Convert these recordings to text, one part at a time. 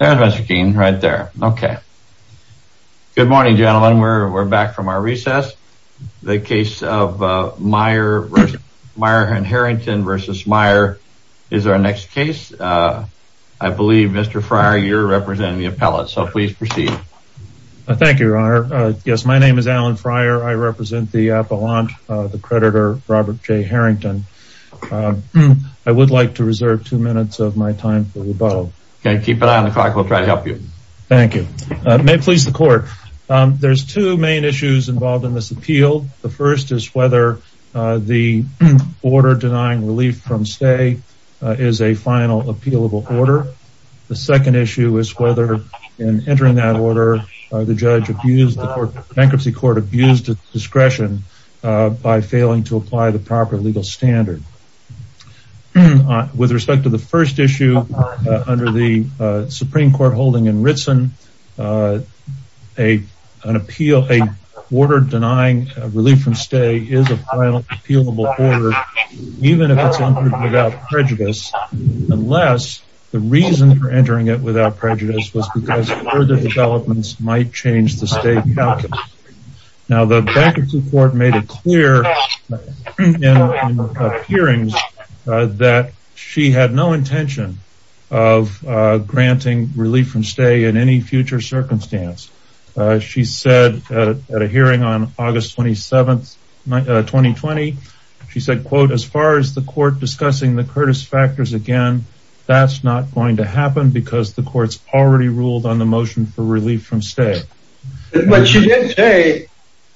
Good morning, gentlemen. We're back from our recess. The case of Mayer and Harrington v. Mayer is our next case. I believe Mr. Fryer, you're representing the appellate, so please Thank you, your honor. Yes, my name is Alan Fryer. I represent the appellant, the creditor Robert J. Harrington. I would like to reserve two minutes of my time for rebuttal. Okay, keep an eye on the clock. We'll try to help you. Thank you. May it please the court. There's two main issues involved in this appeal. The first is whether the order denying relief from stay is a final appealable order. The second issue is whether in entering that order, the judge abused the court, bankruptcy court abused discretion by failing to apply the proper legal standard. With respect to the first issue, under the Supreme Court holding in Ritsen, an appeal, a order denying relief from stay is a final appealable order, even if it's entered without prejudice, unless the reason for entering it without prejudice was because further developments might change the state. Now, the bankruptcy court made it clear in hearings that she had no intention of granting relief from stay in any future circumstance. She said at a hearing on August 27th, 2020, she said, quote, as far as the court discussing the Curtis factors again, that's not going to happen because the courts already ruled on the motion for relief from stay. But she did say,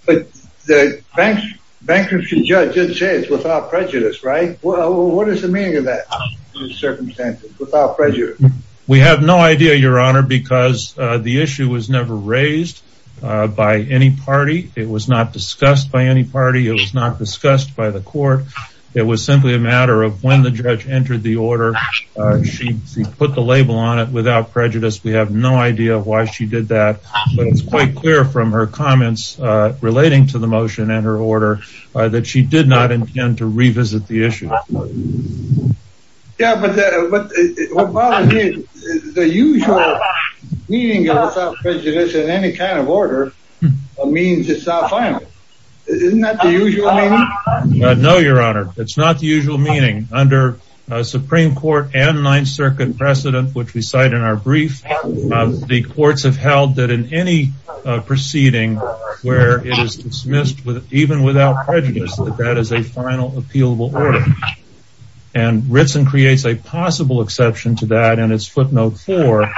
but the bank bankruptcy judge didn't say it's without prejudice, right? Well, what is the meaning of that? circumstances without prejudice? We have no idea, Your Honor, because the issue was never raised by any party. It was not discussed by any party. It was not discussed by the court. It was simply a matter of when the judge entered the order. She put the label on it without prejudice. We have no idea why she did that. But it's quite clear from her comments relating to the motion and her order that she did not intend to revisit the issue. Yeah, but what bothers me is the usual meaning of without prejudice in any kind of order means it's not final. Isn't that the usual meaning? No, Your Honor, it's not the usual meaning under Supreme Court and Ninth Circuit precedent, which we cite in our brief, the courts have held that in any proceeding, where it is dismissed with even without prejudice, that is a final appealable order. And Ritson creates a possible exception to that. And it's footnote for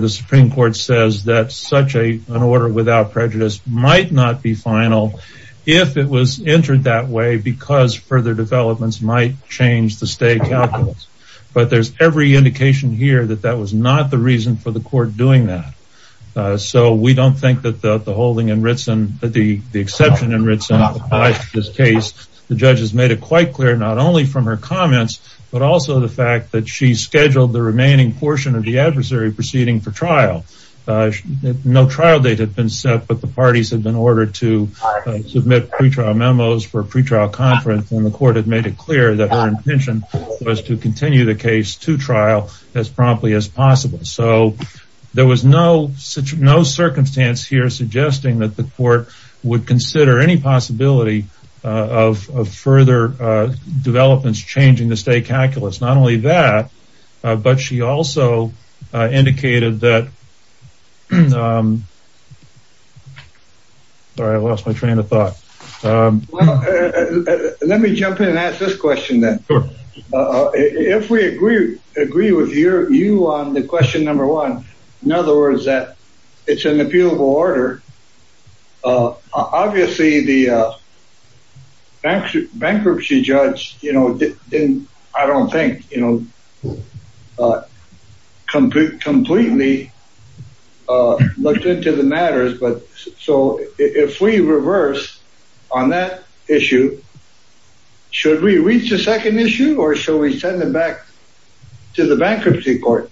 the Supreme Court says that such a an order without prejudice might not be final if it was entered that way because further developments might change the state calculus. But there's every indication here that that was not the reason for the court doing that. So we don't think that the exception in Ritson applies to this case. The judge has made it quite clear, not only from her comments, but also the fact that she scheduled the remaining portion of the adversary proceeding for trial. No trial date had been set, but the parties have been ordered to submit pre-trial memos for pre-trial conference and the court had made it clear that her intention was to continue the case to trial as promptly as possible. So there was no such no circumstance here suggesting that the court would consider any possibility of further developments changing the state calculus. Not only that, but she also indicated that, sorry I lost my train of thought. Let me jump in and ask this question then. If we agree with you on the question number one, in other words that it's an appealable issue, should we reach a second issue or should we send it back to the bankruptcy court?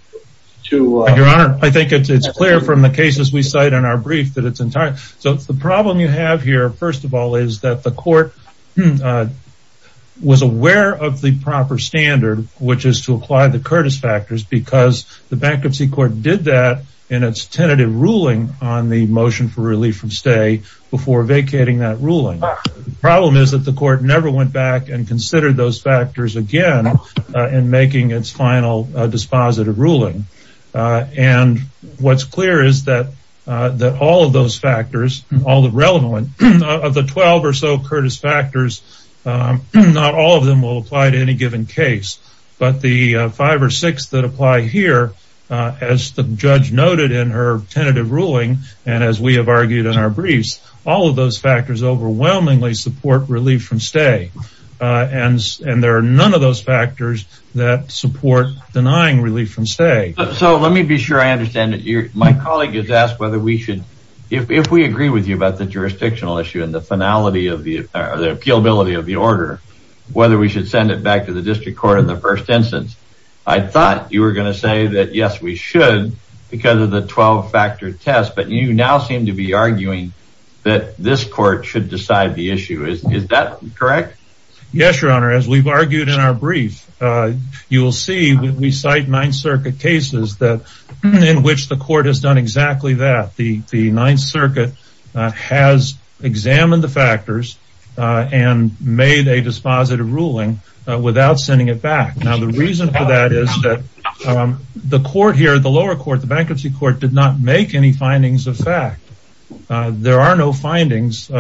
I think it's clear from the cases we cite in our brief that it's entirely. So the problem you have here, first of all, is that the court was aware of the proper standard, which is to apply the Curtis factors because the bankruptcy court did that in its tentative ruling on the motion for relief from stay before vacating that ruling. The problem is that the court never went back and considered those factors again in making its final dispositive ruling. And what's clear is that all of those factors, all the relevant, of the twelve or so Curtis factors, not all of them will apply to any given case. But the five or six that apply here, as the judge noted in her tentative ruling, and as we have argued in our briefs, all of those factors overwhelmingly support relief from stay. And there are none of those factors that support denying relief from stay. So let me be sure I understand. My colleague has asked whether we should, if we agree with you about the jurisdictional issue and the finality of the appealability of the order, whether we should send it back to the district court in the first instance. I thought you were going to say that, yes, we should because of the twelve factor test. But you now seem to be arguing that this court should decide the issue. Is that correct? Yes, your honor. As we've argued in our brief, you will see when we cite Ninth Circuit cases that in which the court has done exactly that. The Ninth Circuit has examined the factors and made a dispositive ruling without sending it back. Now the reason for that is that the court here, the lower court, the bankruptcy court, did not make any findings of fact. There are no findings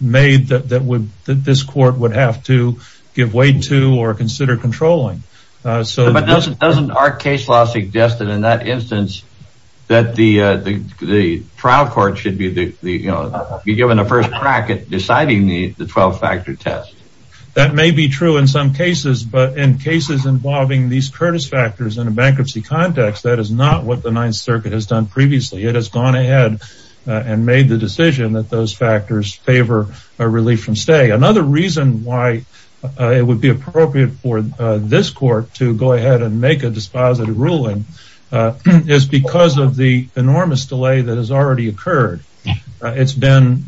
made that this court would have to give way to or consider controlling. But doesn't our case law suggest that in that instance that the trial court should be given a first crack at deciding the twelve factor test? That may be true in some cases, but in cases involving these Curtis factors in a bankruptcy context, that is not what the Ninth Circuit has done previously. It has gone ahead and made the decision that those factors favor relief from stay. Another reason why it would be appropriate for this court to go ahead and make a dispositive ruling is because of the enormous delay that has already occurred. It's been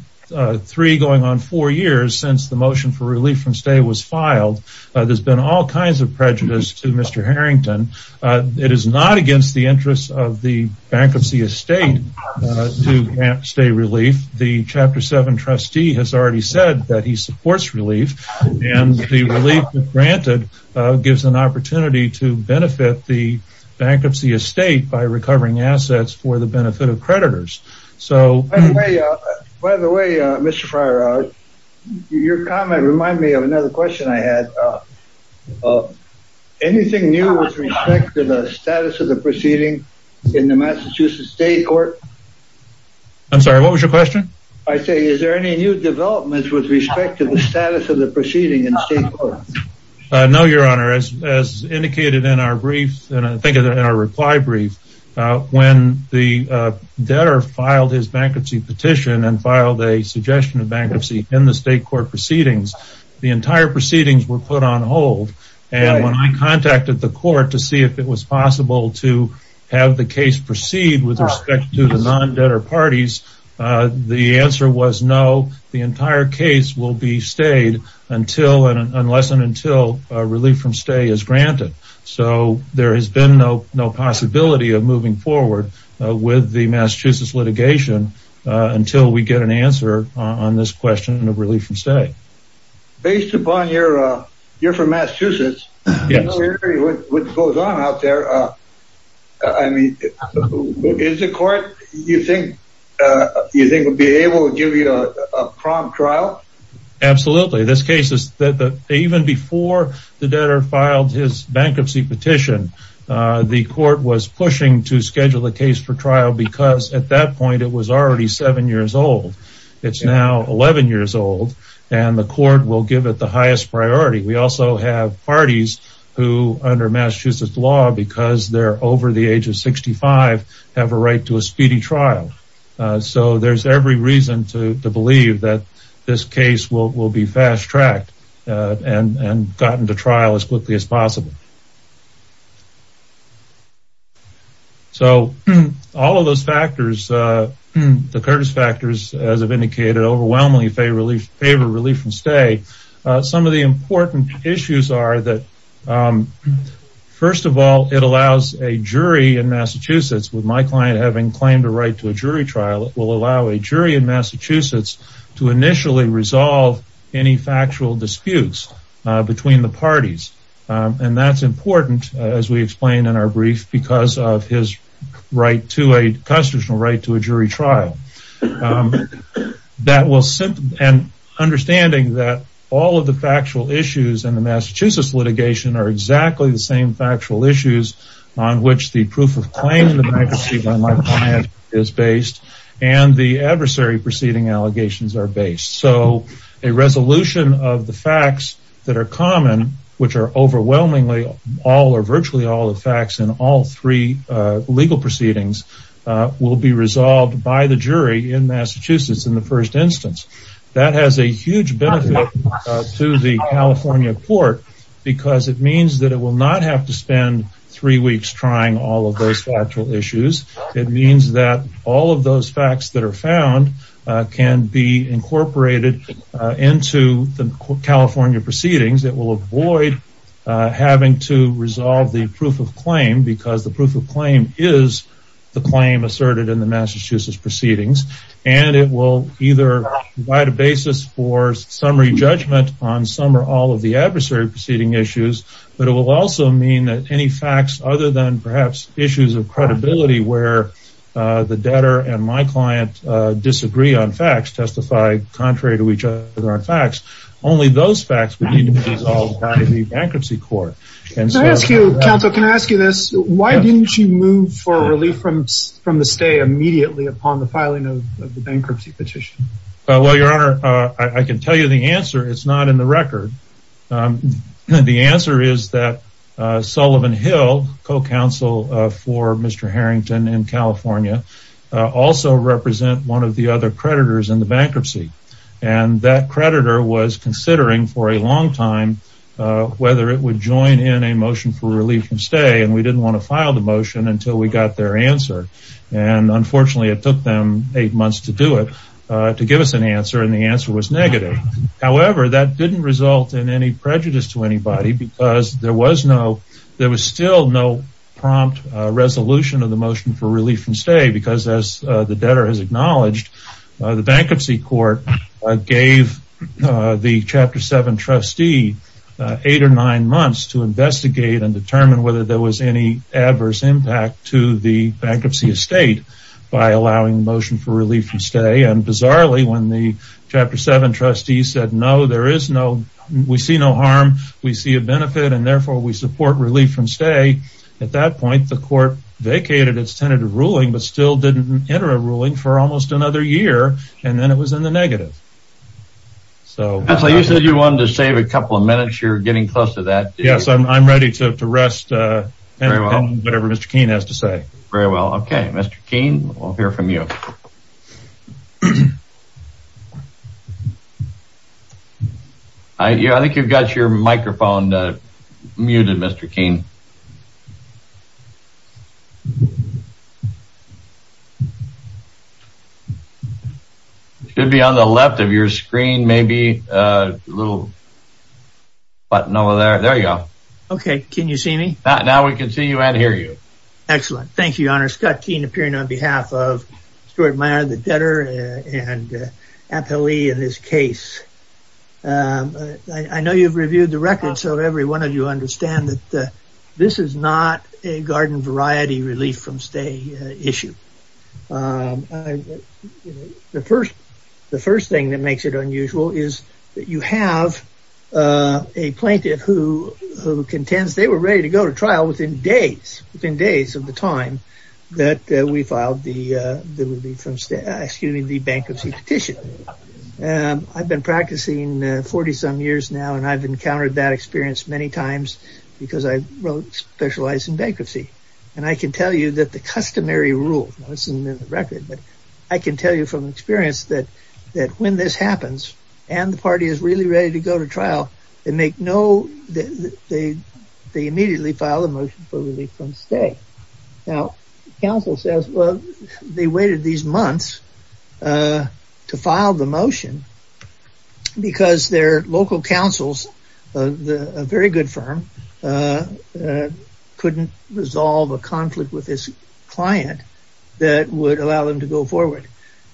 three going on four years since the motion for relief from stay was filed. There's been all kinds of prejudice to Mr. Harrington. It is not against the interests of the bankruptcy estate to grant stay relief. The chapter seven trustee has already said that the relief granted gives an opportunity to benefit the bankruptcy estate by recovering assets for the benefit of creditors. By the way, Mr. Fryer, your comment reminded me of another question I had. Anything new with respect to the status of the proceeding in the Massachusetts State Court? I'm sorry, what was your question? I say is there any new developments with respect to the status of the proceeding in the state court? No, your honor. As indicated in our brief, and I think in our reply brief, when the debtor filed his bankruptcy petition and filed a suggestion of bankruptcy in the state court proceedings, the entire proceedings were put on hold. And when I contacted the court to see if it was possible to have the case proceed with respect to the non-debtor parties, the answer was no. The entire case will be stayed unless and until relief from stay is granted. So there has been no possibility of moving forward with the Massachusetts litigation until we get an answer on this question of relief from stay. Based upon your, you're from Massachusetts. Yes. What goes on out there, I mean, is the court, you think, you think would be able to give you a prompt trial? Absolutely. This case is that even before the debtor filed his bankruptcy petition, the court was pushing to schedule a case for trial because at that point it was already seven years old. It's now 11 years old and the court will give it the highest priority. We also have parties who under Massachusetts law, because they're over the age of 65, have a right to a speedy trial. So there's every reason to believe that this case will be fast-tracked and gotten to trial as quickly as possible. So all of those factors, the Curtis factors, as I've indicated, overwhelmingly favor relief from stay. Some of the important issues are that, first of all, it allows a jury in Massachusetts, with my client having claimed a right to a jury trial, it will allow a jury in Massachusetts to initially resolve any factual disputes between the parties. And that's important, as we explained in our brief, because of his right to a custodial right to a jury trial. And understanding that all of the factual issues in the Massachusetts litigation are exactly the same factual issues on which the proof of claim is based and the adversary proceeding allegations are based. So a resolution of the facts that are common, which are overwhelmingly all or virtually all the facts in all three legal proceedings, will be resolved by the jury in Massachusetts in the first instance. That has a huge benefit to the California court because it means that it will not have to spend three weeks trying all of those factual issues. It means that all of those facts that are found can be incorporated into the California proceedings that will avoid having to resolve the proof of claim because the proof of claim is the claim asserted in the Massachusetts proceedings. And it will either provide a basis for summary judgment on some or all of the adversary proceeding issues. But it will also mean that any facts other than perhaps issues of credibility where the debtor and my client disagree on facts, testify contrary to each other on facts, only those facts will be resolved by the bankruptcy court. Can I ask you, counsel, can I ask you this? Why didn't you move for relief from the stay immediately upon the filing of the bankruptcy petition? Well, your honor, I can tell you the answer. It's not in the record. The answer is that Sullivan Hill, co-counsel for Mr. Harrington in California, also represent one of the other creditors in the bankruptcy. And that creditor was considering for a long time whether it would join in a motion for relief from stay. And we didn't want to file the motion until we got their answer. And unfortunately, it took them eight months to do it, to because there was no, there was still no prompt resolution of the motion for relief from stay. Because as the debtor has acknowledged, the bankruptcy court gave the chapter seven trustee eight or nine months to investigate and determine whether there was any adverse impact to the bankruptcy estate by allowing the motion for relief from stay. And bizarrely, when the chapter seven trustee said, no, there is no, we see no harm. We see a benefit and therefore we support relief from stay. At that point, the court vacated its tentative ruling, but still didn't enter a ruling for almost another year. And then it was in the negative. So you said you wanted to save a couple of minutes. You're getting close to that. Yes, I'm ready to rest. Whatever Mr. Keene has to say. Very well. Okay, Mr. Keene, we'll hear from you. I think you've got your microphone muted, Mr. Keene. It should be on the left of your screen, maybe a little button over there. There you go. Okay, can you see me? Now we can see you and hear you. Excellent. Thank you, Your Honor. Scott Keene appearing on behalf of Stuart Meyer, the debtor and appellee in this case. I know you've reviewed the record. So every one of you understand that this is not a garden variety relief from stay issue. The first thing that makes it unusual is that you have a plaintiff who contends they were ready to go to trial within days of the time that we filed the bankruptcy petition. I've been practicing 40 some years now, and I've encountered that experience many times because I wrote specialized in bankruptcy. And I can tell you that the customary rule, I can tell you from experience that when this happens, and the party is really ready to go to trial, they make no, they immediately file a motion for relief from stay. Now, counsel says, well, they waited these months to file the motion because their local counsels, a very good firm, couldn't resolve a conflict with this client that would allow them to go forward.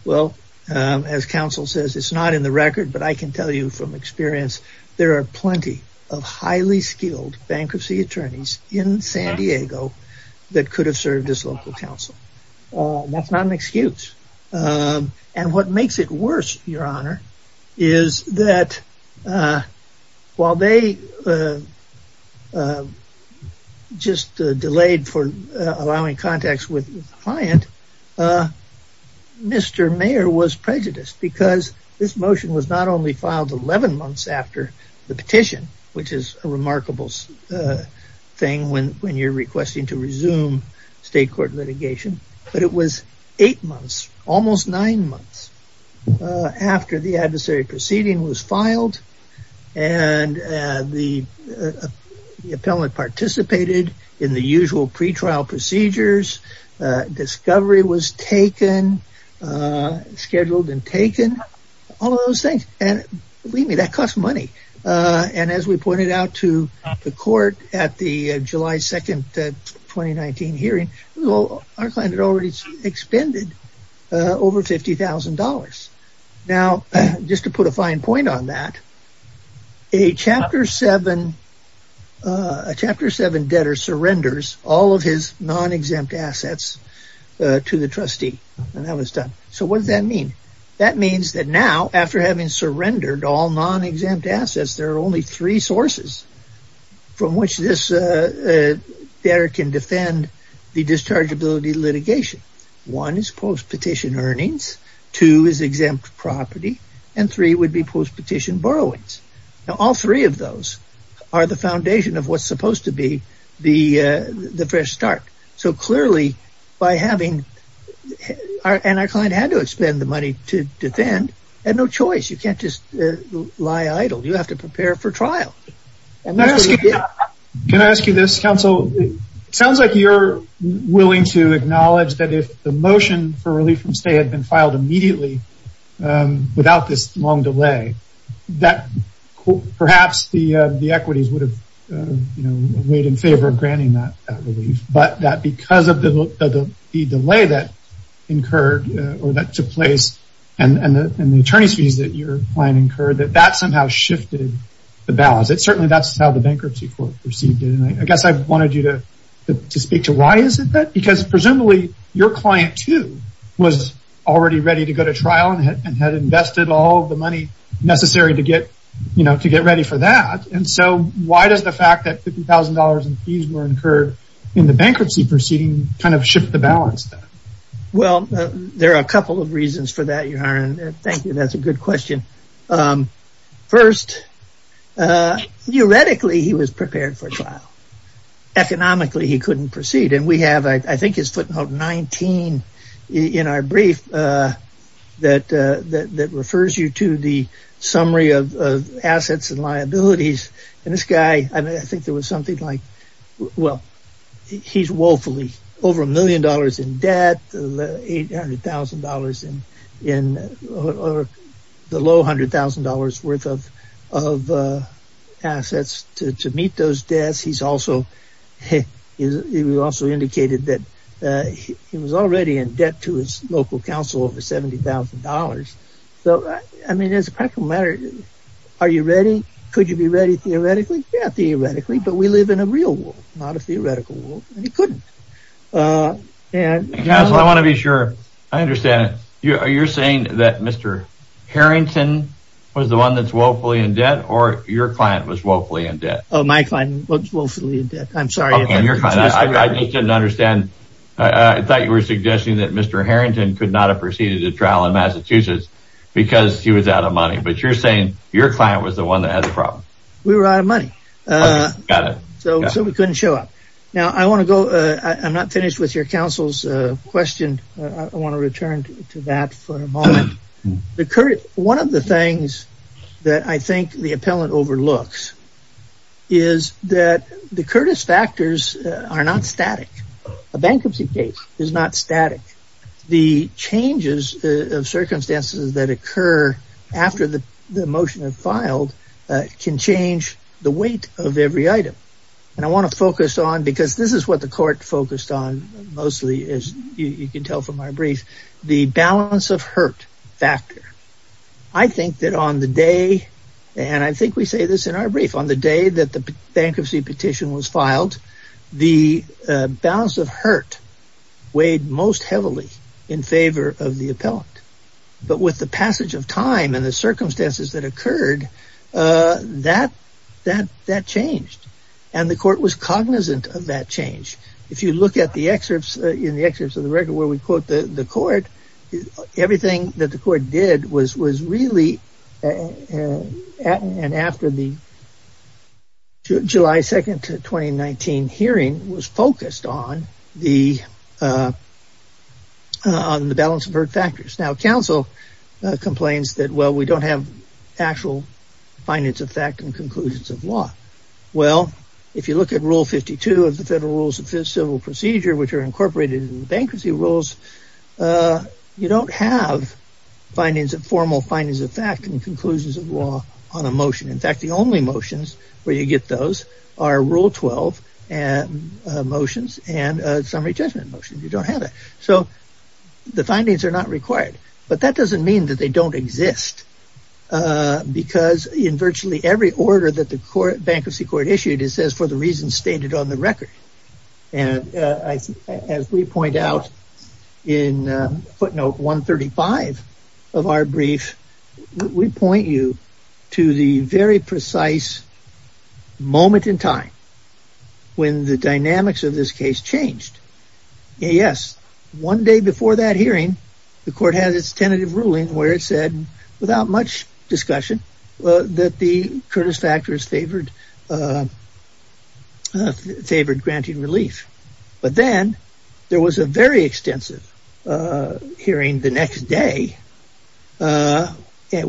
Well, as counsel says, it's not in the record, but I can tell you from experience, there are plenty of highly skilled bankruptcy attorneys in San Diego that could have served as local counsel. That's not an excuse. And what makes it worse, Your Honor, is that while they were just delayed for allowing contacts with the client, Mr. Mayer was prejudiced because this motion was not only filed 11 months after the petition, which is a remarkable thing when you're requesting to resume state court litigation, but it was eight months, almost nine months after the adversary proceeding was filed and the appellant participated in the usual pretrial procedures, discovery was taken, scheduled and taken, all of those things. And believe me, that costs money. And as we pointed out to the court at the July 2nd, 2019 hearing, our client had already expended over $50,000. Now, just to put a fine point on that, a Chapter 7 debtor surrenders all of his non-exempt assets to the trustee. And that was done. So what does that mean? That means that now after having surrendered all non-exempt assets, there are only three sources from which this debtor can defend the dischargeability litigation. One is post-petition earnings. Two is exempt property. And three would be post-petition borrowings. Now, all three of those are the foundation of what's supposed to be the fresh start. So clearly, our client had to expend the money to defend and no choice. You can't just lie idle. You have to prepare for trial. Can I ask you this, counsel? It sounds like you're willing to acknowledge that if the motion for relief from stay had been filed immediately without this long delay, that perhaps the equities would have weighed in favor of granting that relief. But that because of the delay that incurred or that took place and the attorney's plan incurred, that that somehow shifted the balance. Certainly, that's how the bankruptcy court perceived it. And I guess I wanted you to speak to why is it that? Because presumably, your client too was already ready to go to trial and had invested all the money necessary to get ready for that. And so why does the fact that $50,000 in fees were incurred in the bankruptcy proceeding kind of shift the balance? Well, there are a couple of reasons for that, thank you. That's a good question. First, theoretically, he was prepared for trial. Economically, he couldn't proceed. And we have, I think, his footnote 19 in our brief that refers you to the summary of assets and liabilities. And this guy, I think there was something like, he's woefully over a million dollars in debt, $800,000 in the low $100,000 worth of assets to meet those debts. He also indicated that he was already in debt to his local council over $70,000. So, I mean, as a practical matter, are you ready? Could you be ready theoretically? Yeah, theoretically, but we live in a real world, not a theoretical world. And he couldn't. And I want to be sure I understand it. You're saying that Mr. Harrington was the one that's woefully in debt or your client was woefully in debt? Oh, my client was woefully in debt. I'm sorry. I didn't understand. I thought you were suggesting that Mr. Harrington could not have proceeded a trial in Massachusetts because he was out of money. But you're saying your client was the one that had the problem? We were out of money. Got it. So, we couldn't show up. Now, I want to go, I'm not finished with your counsel's question. I want to return to that for a moment. One of the things that I think the appellant overlooks is that the Curtis factors are not static. A bankruptcy case is not static. The changes of circumstances that occur after the motion is filed can change the weight of every item. And I want to focus on, because this is what the court focused on mostly, as you can tell from our brief, the balance of hurt factor. I think that on the day, and I think we say this in our brief, on the day that the bankruptcy petition was filed, the balance of hurt weighed most heavily in favor of the appellant. But with the passage of time and the circumstances that occurred, that changed. And the court was cognizant of that change. If you look in the excerpts of the record where we quote the court, everything that the court did was really, and after the July 2nd, 2019 hearing was focused on the balance of hurt factors. Now, counsel complains that we don't have actual findings of fact and conclusions of law. Well, if you look at rule 52 of the Federal Rules of Civil Procedure, which are incorporated in the bankruptcy rules, you don't have formal findings of fact and conclusions of law on a motion. In fact, the only motions where you get those are rule 12 motions and summary judgment motions. You don't have that. So the findings are not required. But that doesn't mean that they don't exist. Because in virtually every order that the bankruptcy court issued, it says for the reasons stated on the record. And as we point out in footnote 135 of our brief, we point you to the very precise moment in time when the dynamics of this case changed. Yes, one day before that hearing, the court has its tentative ruling where it said without much discussion that the Curtis factors favored granted relief. But then there was a very day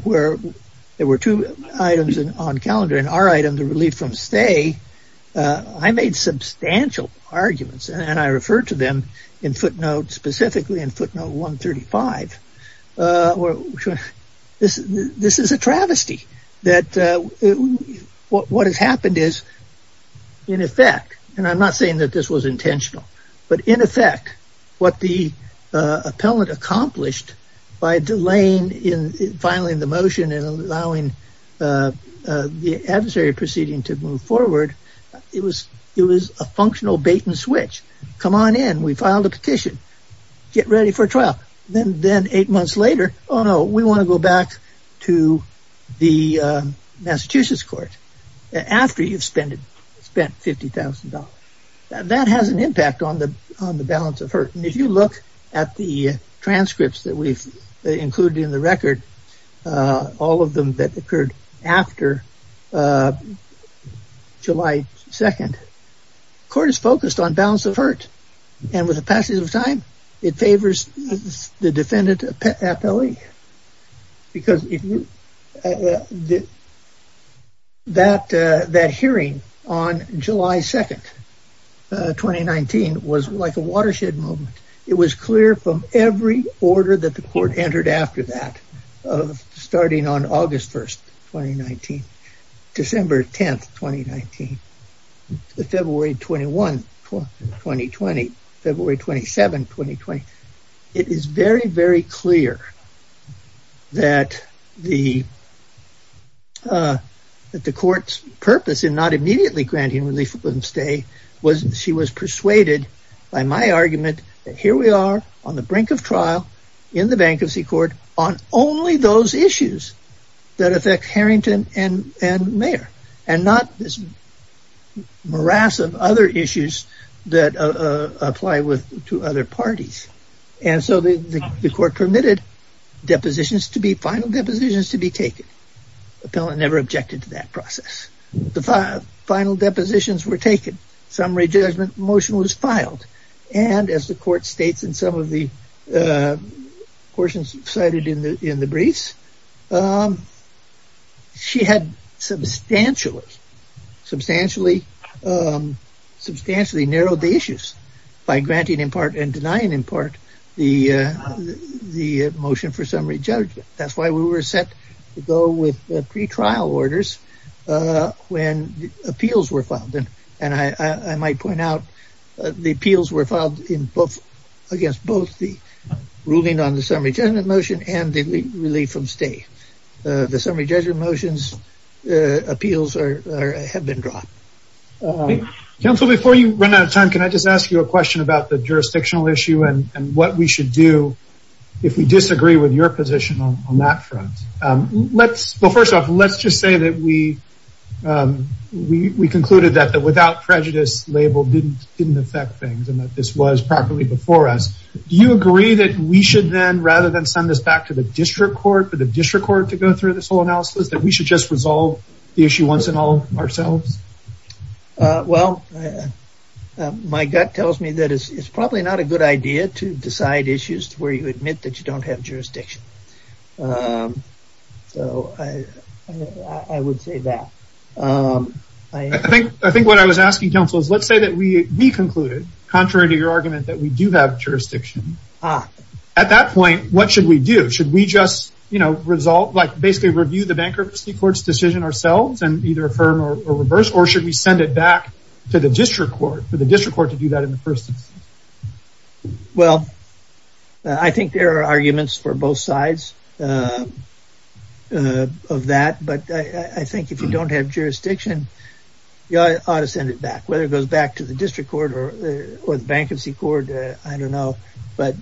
where there were two items on calendar and our item to relieve from stay. I made substantial arguments and I referred to them in footnotes specifically in footnote 135. This is a travesty that what has happened is in effect, and I'm not saying that this was intentional, but in effect, what the appellant accomplished by delaying in filing the motion and allowing the adversary proceeding to move forward, it was a functional bait and switch. Come on in, we filed a petition, get ready for trial. Then eight months later, oh no, we want to go back to the Massachusetts court after you've spent $50,000. That has an impact on the balance of hurt. And if you look at the transcripts that we've included in the record, all of them that occurred after July 2nd, court is focused on balance of hurt. And with the passage of time, it favors the defendant appellee because that hearing on July 2nd, 2019 was like a watershed moment. It was clear from every order that the court entered after that of starting on August 1st, 2019, December 10th, 2019, February 21st, 2020, February 27th, 2020. It is very, very clear that the court's purpose in not immediately granting relief on stay was she was persuaded by my argument that here we are on the brink of trial in the bankruptcy court on only those issues that affect Harrington and Mayer and not this morass of other issues that apply to other parties. And so the court permitted final depositions to be taken. The appellant never objected to that process. The final depositions were taken. Summary judgment motion was filed. And as the court noted, she had substantially narrowed the issues by granting in part and denying in part the motion for summary judgment. That's why we were set to go with pre-trial orders when appeals were filed. And I might point out the appeals were filed against both the ruling on the summary judgment motion and the relief from stay. The summary judgment motions appeals have been dropped. Counsel, before you run out of time, can I just ask you a question about the jurisdictional issue and what we should do if we disagree with your position on that front? Well, first off, let's just say that we concluded that the without prejudice label didn't affect things and that this was properly before us. Do you agree that we should then, rather than send this back to the district court for the district court to go through this whole analysis, that we should just resolve the issue once and all ourselves? Well, my gut tells me that it's probably not a good idea to decide issues where you admit that you don't have jurisdiction. So, I would say that. I think what I was asking, counsel, is let's say that we concluded, contrary to your argument, that we do have jurisdiction. At that point, what should we do? Should we just basically review the bankruptcy court's decision ourselves and either affirm or reverse, or should we send it back to the district court for the district court to do that in the future? I think there are both sides of that, but I think if you don't have jurisdiction, you ought to send it back. Whether it goes back to the district court or the bankruptcy court, I don't know, but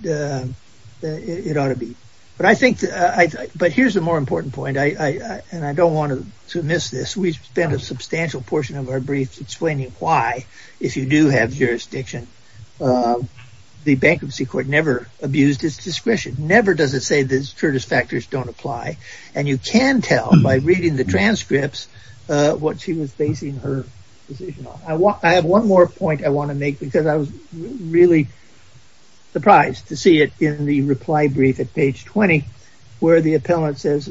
it ought to be. But here's a more important point, and I don't want to miss this. We spent a substantial portion of our brief explaining why, if you do have jurisdiction, the bankruptcy court never abused its discretion. Never does it say the Curtis factors don't apply, and you can tell by reading the transcripts what she was basing her decision on. I have one more point I want to make because I was really surprised to see it in the reply brief at page 20, where the appellant says,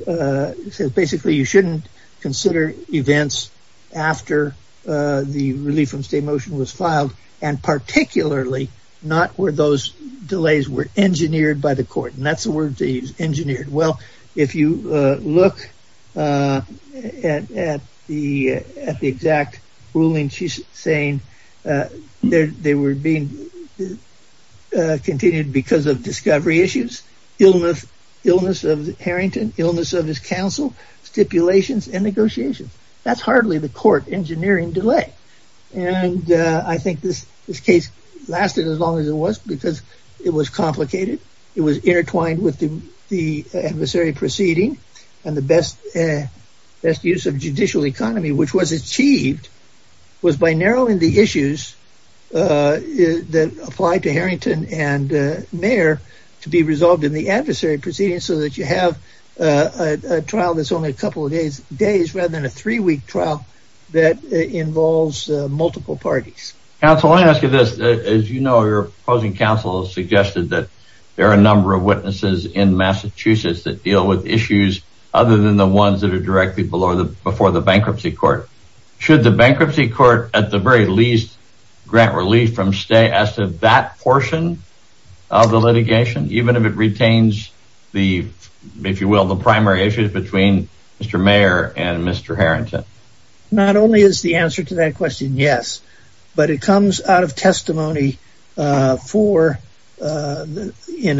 basically, you shouldn't consider events after the relief from state motion was filed, and particularly not where those delays were engineered by the court, and that's the word they used, engineered. Well, if you look at the exact ruling, she's saying they were being continued because of discovery issues, illness of Harrington, illness of his counsel, stipulations, and negotiations. That's hardly the court engineering delay, and I think this case lasted as long as it was because it was complicated. It was intertwined with the adversary proceeding, and the best use of judicial economy, which was achieved, was by narrowing the issues that applied to Harrington and Mayer to be resolved in the trial that's only a couple of days rather than a three-week trial that involves multiple parties. Counsel, let me ask you this. As you know, your opposing counsel has suggested that there are a number of witnesses in Massachusetts that deal with issues other than the ones that are directly before the bankruptcy court. Should the bankruptcy court, at the very least, grant relief from state as to that portion of the litigation, even if it retains the, if you will, the primary issues between Mr. Mayer and Mr. Harrington? Not only is the answer to that question, yes, but it comes out of testimony in a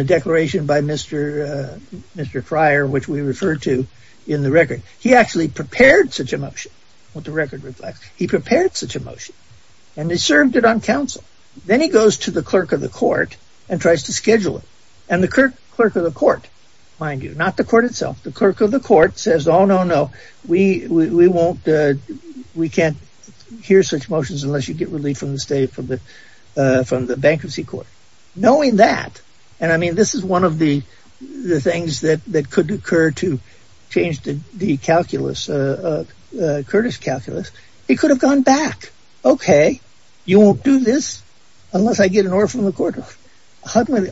declaration by Mr. Fryer, which we refer to in the record. He actually prepared such a motion, what the record reflects. He prepared such a motion, and he served it on counsel. Then he goes to the clerk of the court itself. The clerk of the court says, oh, no, no, we can't hear such motions unless you get relief from the bankruptcy court. Knowing that, and I mean, this is one of the things that could occur to change the Curtis calculus, he could have gone back. Okay, you won't do this unless I get an order from the court.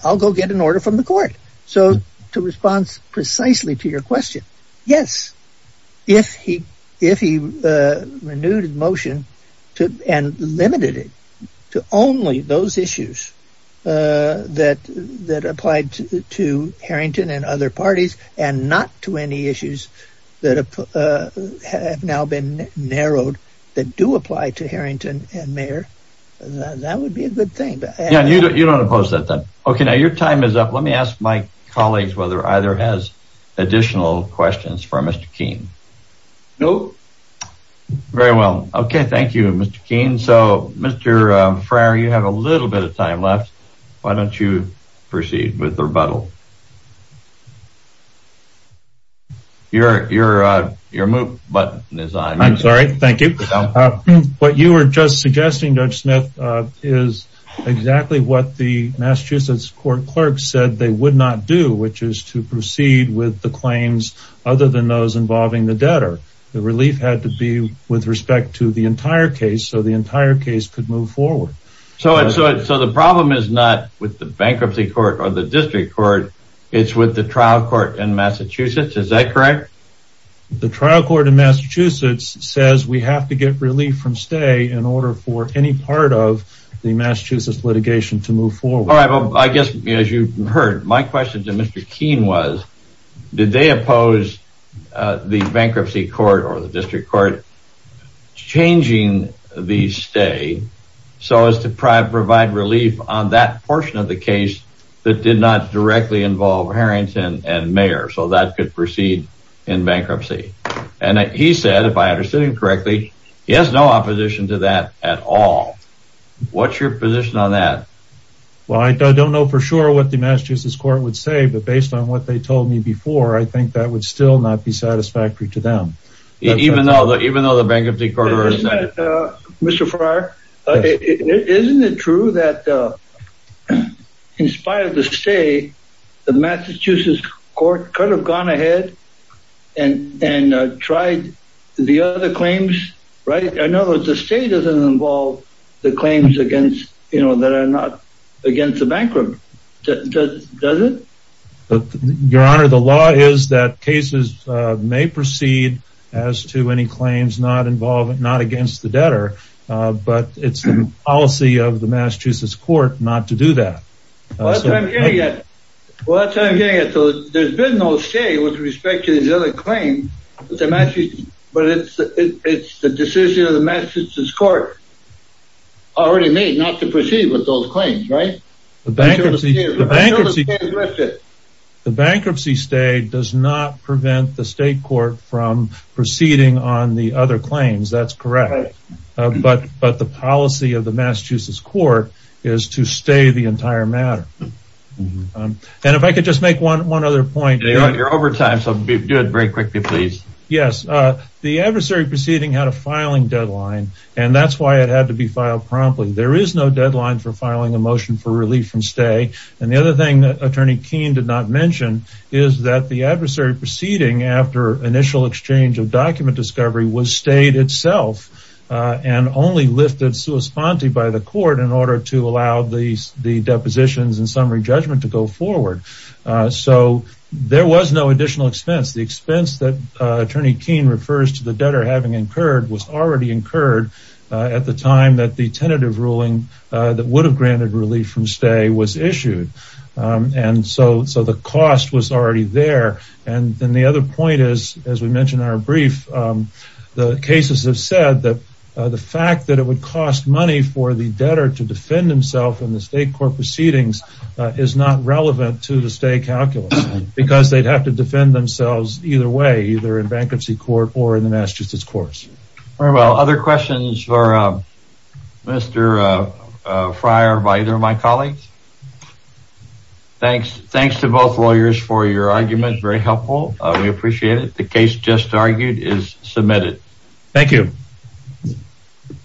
I'll go get an order from the court. So to response precisely to your question, yes, if he renewed his motion and limited it to only those issues that applied to Harrington and other parties and not to any issues that have now been narrowed that do apply to Harrington and Mayer, that would be a good thing. Yeah, you don't oppose that then. Okay, now your time is up. Let me ask my colleagues whether either has additional questions for Mr. Keene. No. Very well. Okay, thank you, Mr. Keene. So Mr. Fryer, you have a little bit of time left. Why don't you proceed with the rebuttal? Your move button is on. I'm sorry. Thank you. What you were just suggesting, Judge Smith, is exactly what the Massachusetts court clerk said they would not do, which is to proceed with the claims other than those involving the debtor. The relief had to be with respect to the entire case so the entire case could move forward. So the problem is not with the bankruptcy court or the district court. It's with the trial court in Massachusetts. Is that correct? The trial court in Massachusetts says we have to get relief from stay in order for any part the Massachusetts litigation to move forward. All right, well, I guess as you heard, my question to Mr. Keene was, did they oppose the bankruptcy court or the district court changing the stay so as to provide relief on that portion of the case that did not directly involve Harrington and Mayer so that could proceed in bankruptcy? And he said, if I understood him correctly, he has no opposition to that at all. What's your position on that? Well, I don't know for sure what the Massachusetts court would say, but based on what they told me before, I think that would still not be satisfactory to them. Even though the bankruptcy court... Mr. Farrar, isn't it true that in spite of the stay, the Massachusetts court could have gone ahead and tried the other claims right? I know that the stay doesn't involve the claims against, you know, that are not against the bankrupt. Does it? Your Honor, the law is that cases may proceed as to any claims not involved, not against the debtor, but it's the policy of the Massachusetts court not to do that. Well, that's what I'm getting at. So there's been no stay with respect to the other claim, but it's the decision of the Massachusetts court already made not to proceed with those claims, right? The bankruptcy stay does not prevent the state court from proceeding on the other claims, that's correct. But the policy of the Massachusetts court is to stay the entire matter. And if I could just make one other point. Your overtime, so do it very quickly, please. Yes, the adversary proceeding had a filing deadline, and that's why it had to be filed promptly. There is no deadline for filing a motion for relief from stay. And the other thing that Attorney Keene did not mention is that the adversary proceeding after initial exchange of document discovery was stayed itself and only lifted sui sponte by the court in order to allow the depositions and summary judgment to go forward. So there was no additional expense. The expense that Attorney Keene refers to the debtor having incurred was already incurred at the time that the tentative ruling that would have granted relief from stay was issued. And so the cost was already there. And then the other point is, as we mentioned in our brief, the cases have said that the fact that it would cost money for the debtor to defend himself in the state court proceedings is not relevant to the stay calculus. Because they would have to defend themselves either way, either in bankruptcy court or in the Massachusetts courts. Very well. Other questions for Mr. Fryer by either of my colleagues? Thanks to both lawyers for your argument. Very helpful. We appreciate it. The case just argued is submitted. Thank you.